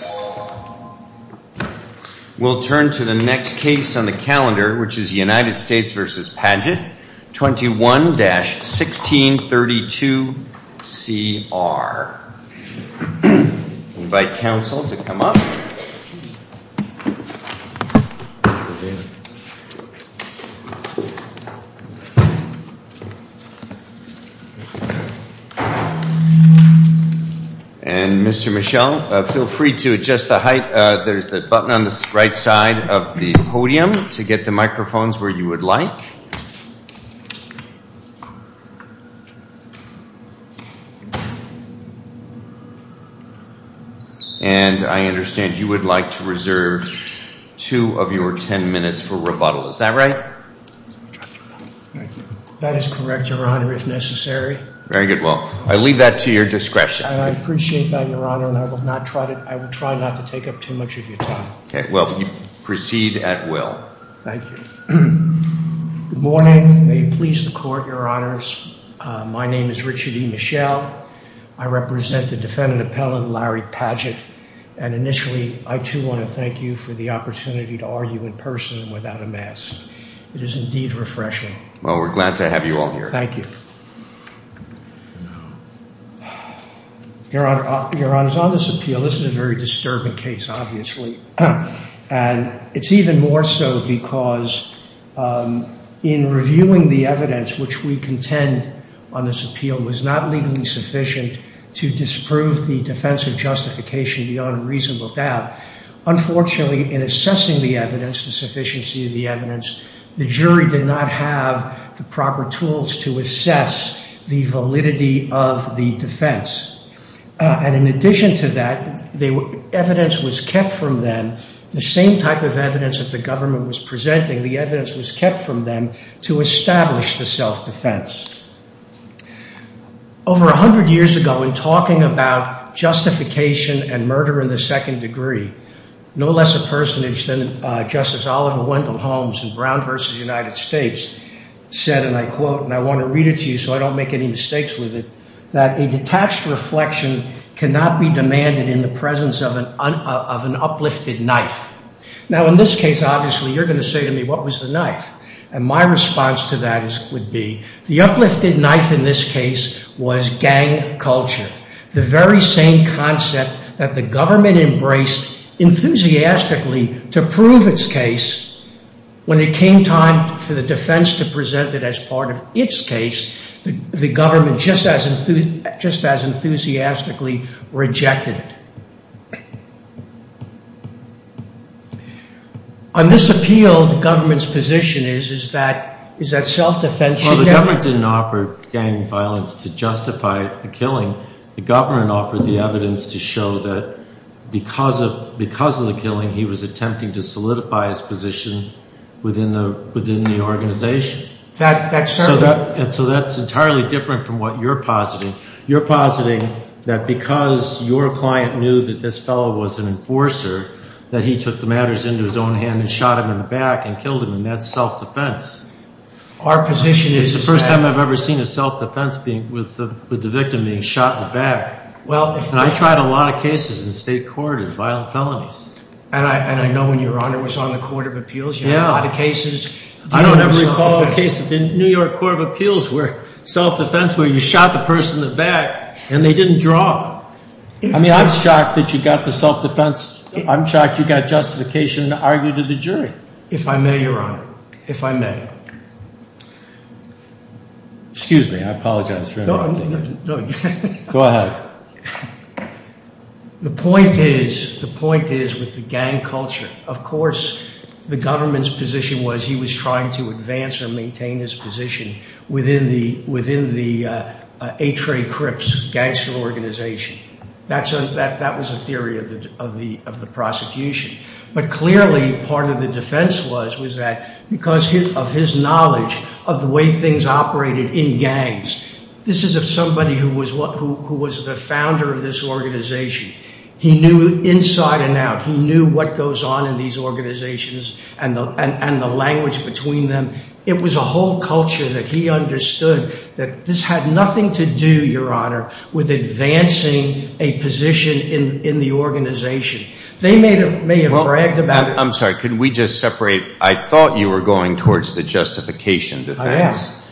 21-1632CR. We'll turn to the next case on the calendar, which is United States v. Pagett, 21-1632CR. I invite counsel to come up. And Mr. Michel, feel free to introduce yourself. To adjust the height, there's the button on the right side of the podium to get the microphones where you would like. And I understand you would like to reserve two of your ten minutes for rebuttal. Is that right? That is correct, Your Honor, if necessary. Very good. Well, I leave that to your discretion. And I appreciate that, Your Honor, and I will try not to take up too much of your time. Okay. Well, proceed at will. Thank you. Good morning. May it please the Court, Your Honors. My name is Richard E. Michel. I represent the Defendant Appellant Larry Pagett. And initially, I too want to thank you for the opportunity to argue in person and without a mask. It is indeed refreshing. Well, we're glad to have you all here. Thank you. Your Honor, on this appeal, this is a very disturbing case, obviously. And it's even more so because in reviewing the evidence which we contend on this appeal was not legally sufficient to disprove the defense of justification beyond a reasonable doubt. Unfortunately, in assessing the evidence, the sufficiency of the evidence, the jury did not have the ability to assess the validity of the defense. And in addition to that, evidence was kept from them, the same type of evidence that the government was presenting, the evidence was kept from them to establish the self-defense. Over a hundred years ago, in talking about justification and murder in the second degree, no less a personage than Justice Oliver Wendell Holmes in Brown v. United States said, and I quote, and I want to read it to you so I don't make any mistakes with it, that a detached reflection cannot be demanded in the presence of an uplifted knife. Now, in this case, obviously, you're going to say to me, what was the knife? And my response to that would be, the uplifted knife in this case was gang culture, the very same concept that the government embraced enthusiastically to prove its case. When it came time for the defense to present it as part of its case, the government just as enthusiastically rejected it. On this appeal, the government's position is that self-defense should never... evidence to show that because of the killing, he was attempting to solidify his position within the organization. So that's entirely different from what you're positing. You're positing that because your client knew that this fellow was an enforcer, that he took the matters into his own hand and shot him in the back and killed him, and that's self-defense. Our position is that... It's the first time I've ever seen a self-defense with the victim being shot in the back. And I tried a lot of cases in state court in violent felonies. And I know when Your Honor was on the Court of Appeals, you had a lot of cases. I don't ever recall a case in the New York Court of Appeals where self-defense, where you shot the person in the back and they didn't draw. I mean, I'm shocked that you got the self-defense. I'm shocked you got justification to argue to the jury. If I may, Your Honor, if I may. Excuse me, I apologize for interrupting. No, no. Go ahead. The point is, the point is with the gang culture, of course the government's position was he was trying to advance or maintain his position within the H. Ray Cripps gangster organization. That was the theory of the prosecution. But clearly part of the defense was that because of his knowledge of the way things operated in gangs, this is somebody who was the founder of this organization. He knew inside and out. He knew what goes on in these organizations and the language between them. It was a whole culture that he understood that this had nothing to do, Your Honor, with advancing a position in the organization. They may have bragged about it. I'm sorry, could we just separate, I thought you were going towards the justification defense. I am.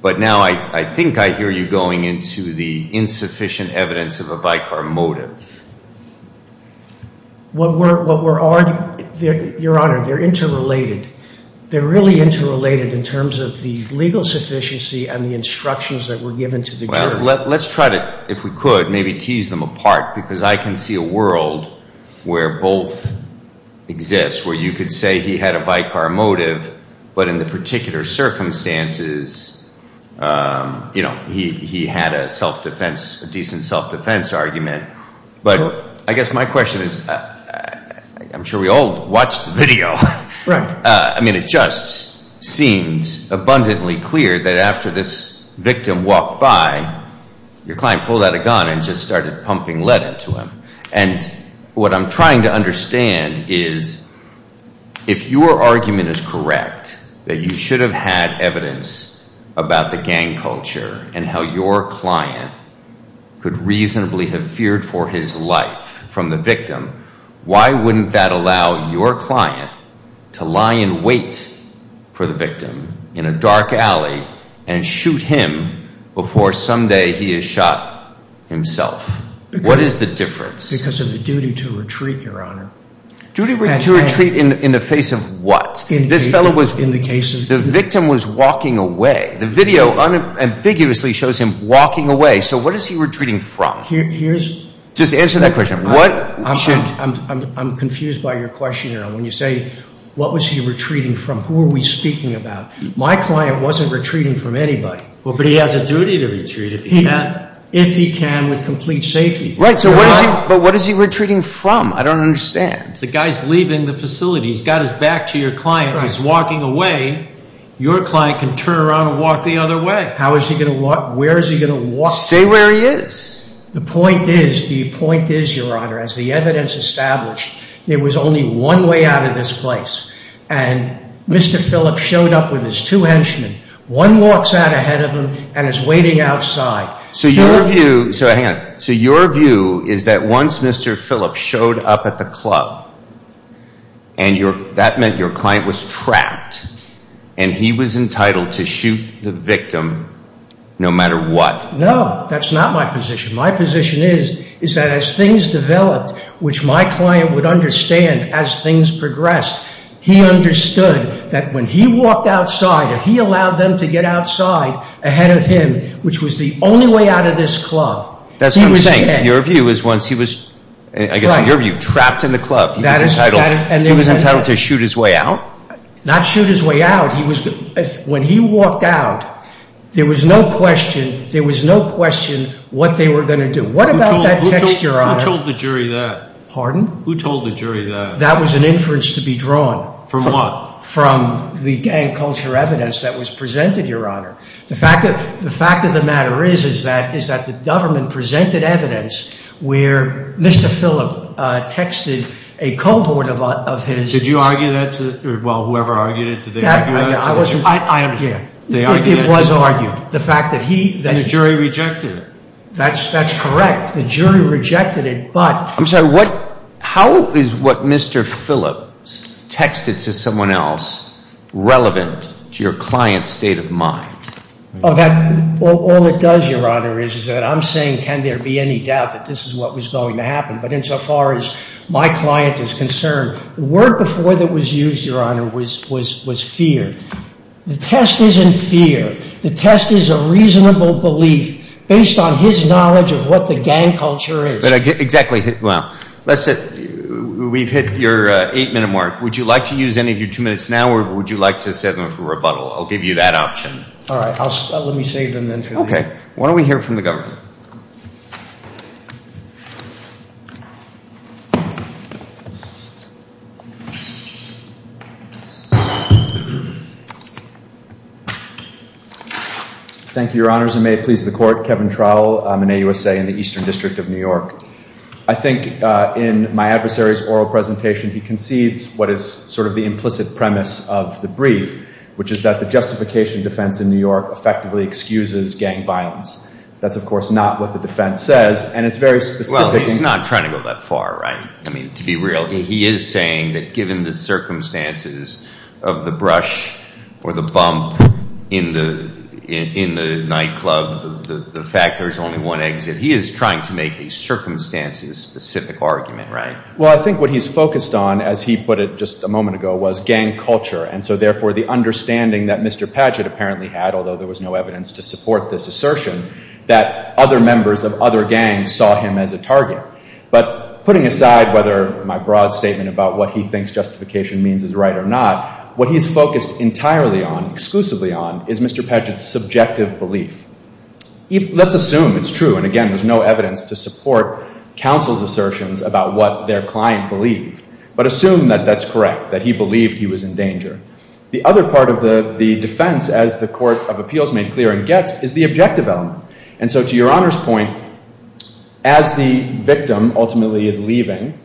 But now I think I hear you going into the insufficient evidence of a bicar motive. Your Honor, they're interrelated. They're really interrelated in terms of the legal Let's try to, if we could, maybe tease them apart. Because I can see a world where both exist. Where you could say he had a bicar motive, but in the particular circumstances, he had a self-defense, a decent self-defense argument. But I guess my question is, I'm sure we all watched the video. I mean, it just seems abundantly clear that after this victim walked by, your client pulled out a gun and just started pumping lead into him. And what I'm trying to understand is, if your argument is correct, that you should have had evidence about the gang culture and how your client could reasonably have feared for his life from the victim, why wouldn't that allow your client to lie in wait for the victim in a dark alley and shoot him before someday he is shot himself? What is the difference? Because of the duty to retreat, your Honor. Duty to retreat in the face of what? In the case of the victim. The victim was walking away. The video unambiguously shows him walking away. So what is he retreating from? Just answer that question. I'm confused by your question, Your Honor. When you say, what was he retreating from? Who are we speaking about? My client wasn't retreating from anybody. But he has a duty to retreat if he can. If he can with complete safety. But what is he retreating from? I don't understand. The guy's leaving the facility. He's got his back to your client. He's walking away. Your client can turn around and walk the other way. How is he going to walk? Where is he going to walk? Stay where he is. The point is, the point is, Your Honor, as the evidence established, there was only one way out of this place. And Mr. Phillips showed up with his two henchmen. One walks out ahead of him and is waiting outside. So your view, so hang on. So your view is that once Mr. Phillips showed up at the club, and that meant your client was trapped, and he was entitled to shoot the victim no matter what. No, that's not my position. My position is that as things developed, which my client would understand as things progressed, he understood that when he walked outside, if he allowed them to get outside ahead of him, which was the only way out of this club. That's what I'm saying. Your view is once he was, I guess in your view, trapped in the club, he was entitled to shoot his way out? Not shoot his way out. When he walked out, there was no question, there was no question what they were going to do. What about that text, Your Honor? Who told the jury that? Pardon? Who told the jury that? That was an inference to be drawn. From what? From the gang culture evidence that was presented, Your Honor. The fact of the matter is that the government presented evidence where Mr. Phillips texted a cohort of his. Did you argue that? Well, whoever argued it, did they argue it? I am here. They argued it? It was argued. And the jury rejected it? That's correct. The jury rejected it. I'm sorry, how is what Mr. Phillips texted to someone else relevant to your client's state of mind? All it does, Your Honor, is that I'm saying can there be any doubt that this is what was going to happen? But insofar as my client is concerned, the word before that was used, Your Honor, was fear. The test isn't fear. The test is a reasonable belief based on his knowledge of what the gang culture is. Exactly. Well, we've hit your eight-minute mark. Would you like to use any of your two minutes now or would you like to set them for rebuttal? I'll give you that option. All right. Let me save them then for later. Okay. Why don't we hear from the government? Thank you, Your Honors, and may it please the Court. Kevin Trowell. I'm an AUSA in the Eastern District of New York. I think in my adversary's oral presentation, he concedes what is sort of the implicit premise of the brief, which is that the justification defense in New York effectively excuses gang violence. That's, of course, not what the defense says, and it's very specific. Well, he's not trying to go that far, right? I mean, to be real, he is saying that given the circumstances of the brush or the bump in the nightclub, the fact there's only one exit, he is trying to make a circumstances-specific argument, right? Well, I think what he's focused on, as he put it just a moment ago, was gang culture, and so, therefore, the understanding that Mr. Patchett apparently had, although there was no evidence to support this assertion, that other members of other gangs saw him as a target. But putting aside whether my broad statement about what he thinks justification means is right or not, what he's focused entirely on, exclusively on, is Mr. Patchett's subjective belief. Let's assume it's true, and again, there's no evidence to support counsel's assertions about what their client believed, but assume that that's correct, that he believed he was in danger. The other part of the defense, as the Court of Appeals made clear and gets, is the objective element. And so, to Your Honor's point, as the victim ultimately is leaving,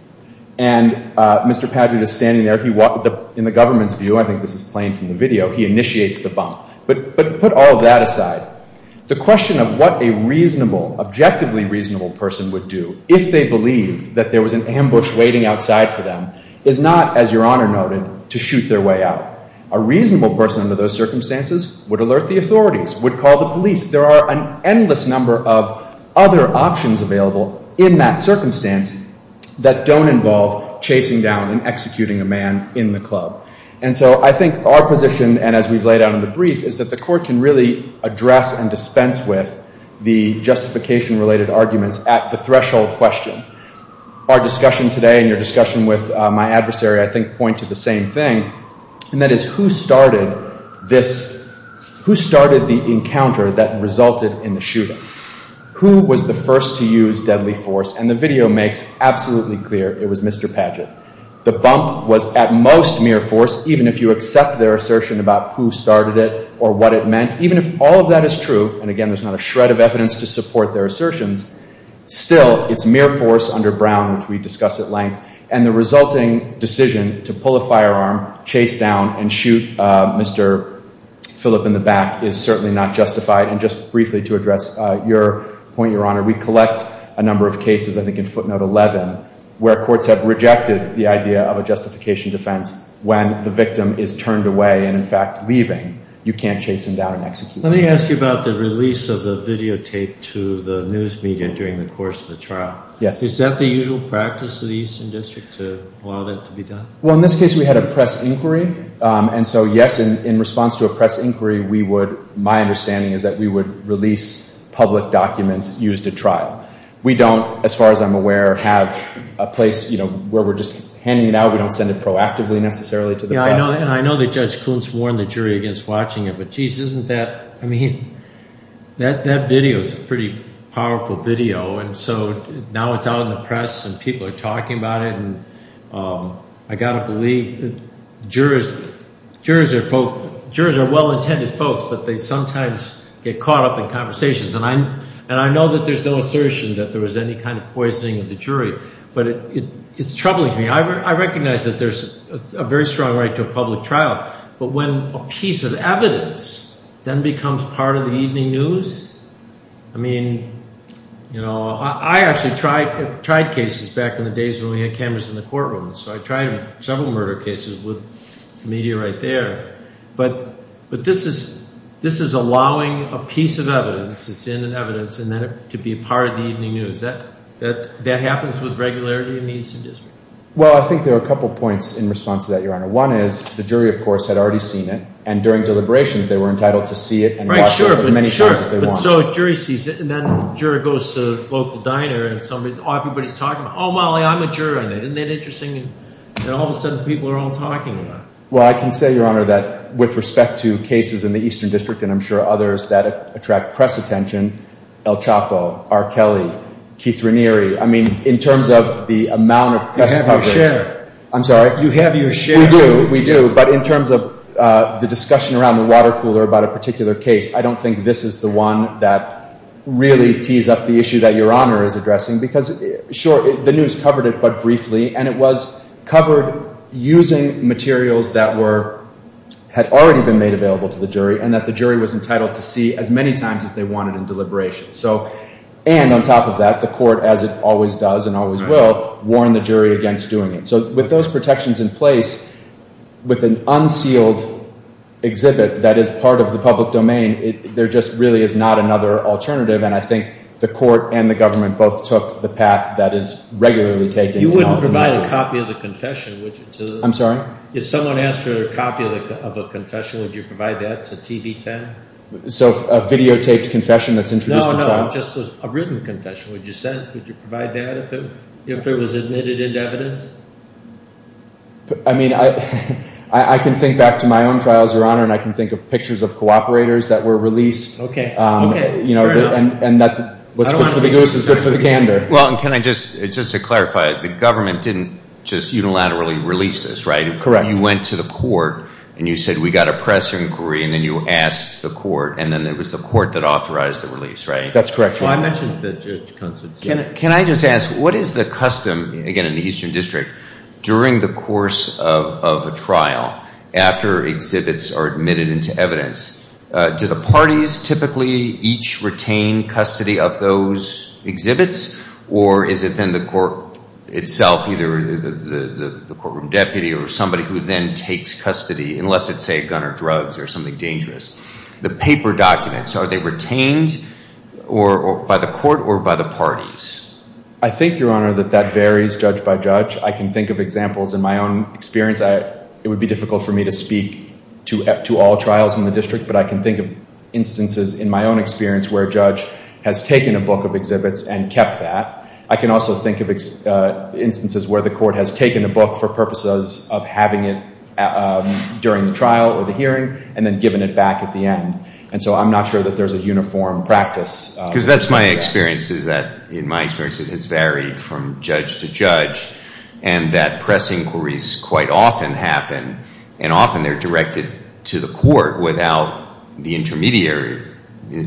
and Mr. Patchett is standing there, in the government's view, I think this is plain from the video, he initiates the bump. But put all of that aside. The question of what a reasonable, objectively reasonable person would do if they believed that there was an ambush waiting outside for them is not, as Your Honor noted, to shoot their way out. A reasonable person under those circumstances would alert the authorities, would call the police. There are an endless number of other options available in that circumstance that don't involve chasing down and executing a man in the club. And so I think our position, and as we've laid out in the brief, is that the Court can really address and dispense with the justification-related arguments at the threshold question. Our discussion today and your discussion with my adversary, I think, point to the same thing, and that is who started this, who started the encounter that resulted in the shooting? Who was the first to use deadly force? And the video makes absolutely clear it was Mr. Patchett. The bump was at most mere force, even if you accept their assertion about who started it or what it meant, even if all of that is true, and again, there's not a shred of evidence to support their assertions, still, it's mere force under Brown, which we discussed at length, and the resulting decision to pull a firearm, chase down, and shoot Mr. Phillip in the back is certainly not justified. And just briefly to address your point, Your Honor, we collect a number of cases, I think in footnote 11, where courts have rejected the idea of a justification defense when the victim is turned away and, in fact, leaving. You can't chase him down and execute him. Let me ask you about the release of the videotape to the news media during the course of the trial. Yes. Is that the usual practice of the Eastern District to allow that to be done? Well, in this case, we had a press inquiry, and so, yes, in response to a press inquiry, my understanding is that we would release public documents used at trial. We don't, as far as I'm aware, have a place where we're just handing it out. We don't send it proactively necessarily to the press. Yeah, and I know that Judge Kuntz warned the jury against watching it, but, geez, isn't that, I mean, that video is a pretty powerful video, and so now it's out in the press and people are talking about it, and I've got to believe jurors are well-intended folks, but they sometimes get caught up in conversations. And I know that there's no assertion that there was any kind of poisoning of the jury, but it's troubling to me. I recognize that there's a very strong right to a public trial, but when a piece of evidence then becomes part of the evening news, I mean, you know, I actually tried cases back in the days when we had cameras in the courtroom, so I tried several murder cases with the media right there, but this is allowing a piece of evidence that's in an evidence and then it could be part of the evening news. That happens with regularity in the Eastern District. One is the jury, of course, had already seen it, and during deliberations they were entitled to see it and watch it as many times as they want. Right, sure, but so a jury sees it and then a juror goes to a local diner and everybody's talking about, oh, Molly, I'm a juror, isn't that interesting? And all of a sudden people are all talking about it. Well, I can say, Your Honor, that with respect to cases in the Eastern District and I'm sure others that attract press attention, El Chapo, R. Kelly, Keith Ranieri, I mean, in terms of the amount of press coverage. You have your share. I'm sorry? You have your share. We do, we do, but in terms of the discussion around the water cooler about a particular case, I don't think this is the one that really tees up the issue that Your Honor is addressing because, sure, the news covered it, but briefly, and it was covered using materials that had already been made available to the jury and that the jury was entitled to see as many times as they wanted in deliberations. And on top of that, the court, as it always does and always will, warned the jury against doing it. And so with those protections in place, with an unsealed exhibit that is part of the public domain, there just really is not another alternative, and I think the court and the government both took the path that is regularly taken. You wouldn't provide a copy of the confession, would you? I'm sorry? If someone asked for a copy of a confession, would you provide that to TV10? So a videotaped confession that's introduced to trial? No, no, just a written confession. Would you provide that if it was admitted into evidence? I mean, I can think back to my own trials, Your Honor, and I can think of pictures of cooperators that were released. Okay, fair enough. And what's good for the goose is good for the gander. Well, and can I just, just to clarify, the government didn't just unilaterally release this, right? Correct. You went to the court and you said, we've got a press inquiry, and then you asked the court, That's correct, Your Honor. Can I just ask, what is the custom, again, in the Eastern District, during the course of a trial after exhibits are admitted into evidence? Do the parties typically each retain custody of those exhibits, or is it then the court itself, either the courtroom deputy or somebody who then takes custody, unless it's, say, a gun or drugs or something dangerous? The paper documents, are they retained by the court or by the parties? I think, Your Honor, that that varies judge by judge. I can think of examples in my own experience. It would be difficult for me to speak to all trials in the district, but I can think of instances in my own experience where a judge has taken a book of exhibits and kept that. I can also think of instances where the court has taken a book for purposes of having it during the trial or the hearing and then given it back at the end. And so I'm not sure that there's a uniform practice. Because that's my experience, is that, in my experience, it has varied from judge to judge, and that press inquiries quite often happen, and often they're directed to the court without the intermediary,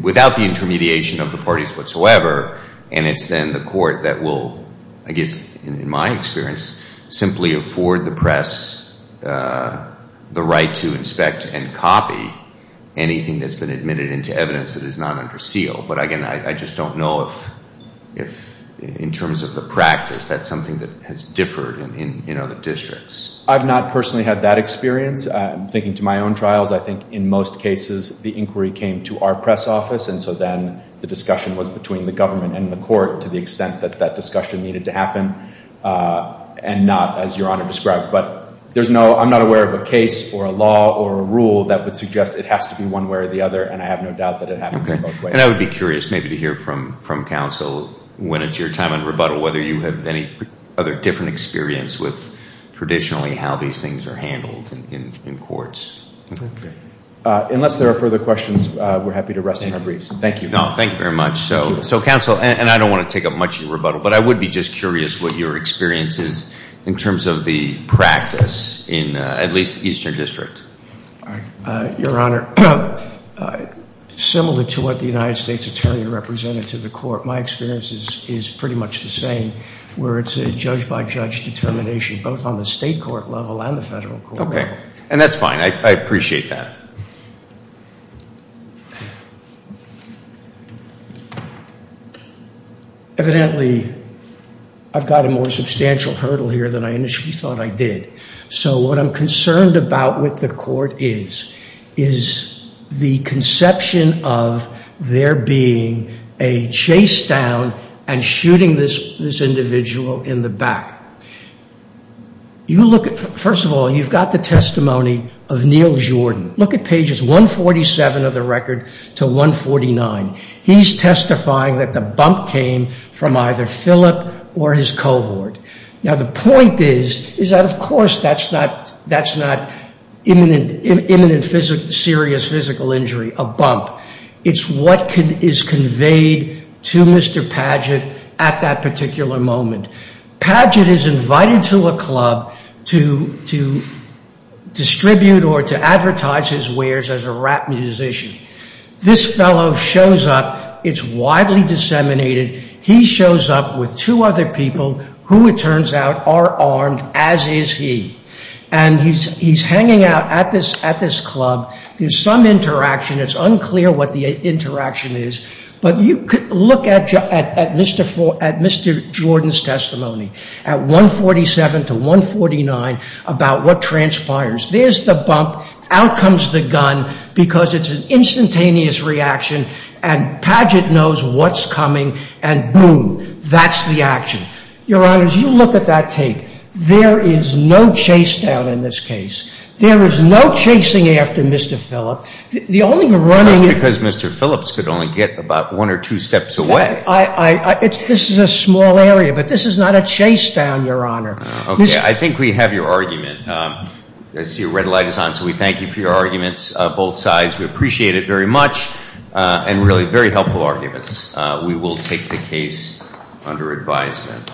without the intermediation of the parties whatsoever, and it's then the court that will, I guess, in my experience, simply afford the press the right to inspect and copy anything that's been admitted into evidence that is not under seal. But, again, I just don't know if, in terms of the practice, that's something that has differed in other districts. I've not personally had that experience. Thinking to my own trials, I think in most cases the inquiry came to our press office, and so then the discussion was between the government and the court to the extent that that discussion needed to happen. And not, as Your Honor described. But I'm not aware of a case or a law or a rule that would suggest it has to be one way or the other, and I have no doubt that it happens in both ways. And I would be curious maybe to hear from counsel when it's your time on rebuttal whether you have any other different experience with traditionally how these things are handled in courts. Unless there are further questions, we're happy to rest in our briefs. Thank you. Thank you very much. So, counsel, and I don't want to take up much of your rebuttal, but I would be just curious what your experience is in terms of the practice in at least the Eastern District. Your Honor, similar to what the United States Attorney represented to the court, my experience is pretty much the same, where it's a judge-by-judge determination, both on the state court level and the federal court level. Okay. And that's fine. I appreciate that. Evidently, I've got a more substantial hurdle here than I initially thought I did. So what I'm concerned about with the court is the conception of there being a chase down and shooting this individual in the back. First of all, you've got the testimony of Neil Jordan. Look at pages 147 of the record to 149. He's testifying that the bump came from either Philip or his cohort. Now, the point is that, of course, that's not imminent serious physical injury, a bump. It's what is conveyed to Mr. Padgett at that particular moment. Padgett is invited to a club to distribute or to advertise his wares as a rap musician. This fellow shows up. It's widely disseminated. He shows up with two other people who, it turns out, are armed, as is he. And he's hanging out at this club. There's some interaction. It's unclear what the interaction is. But look at Mr. Jordan's testimony at 147 to 149 about what transpires. There's the bump. Out comes the gun because it's an instantaneous reaction, and Padgett knows what's coming, and boom, that's the action. Your Honors, you look at that tape. There is no chase down in this case. There is no chasing after Mr. Philip. The only running— Just because Mr. Phillips could only get about one or two steps away. This is a small area, but this is not a chase down, Your Honor. Okay. I think we have your argument. I see a red light is on, so we thank you for your arguments, both sides. We appreciate it very much and really very helpful arguments. We will take the case under advisement.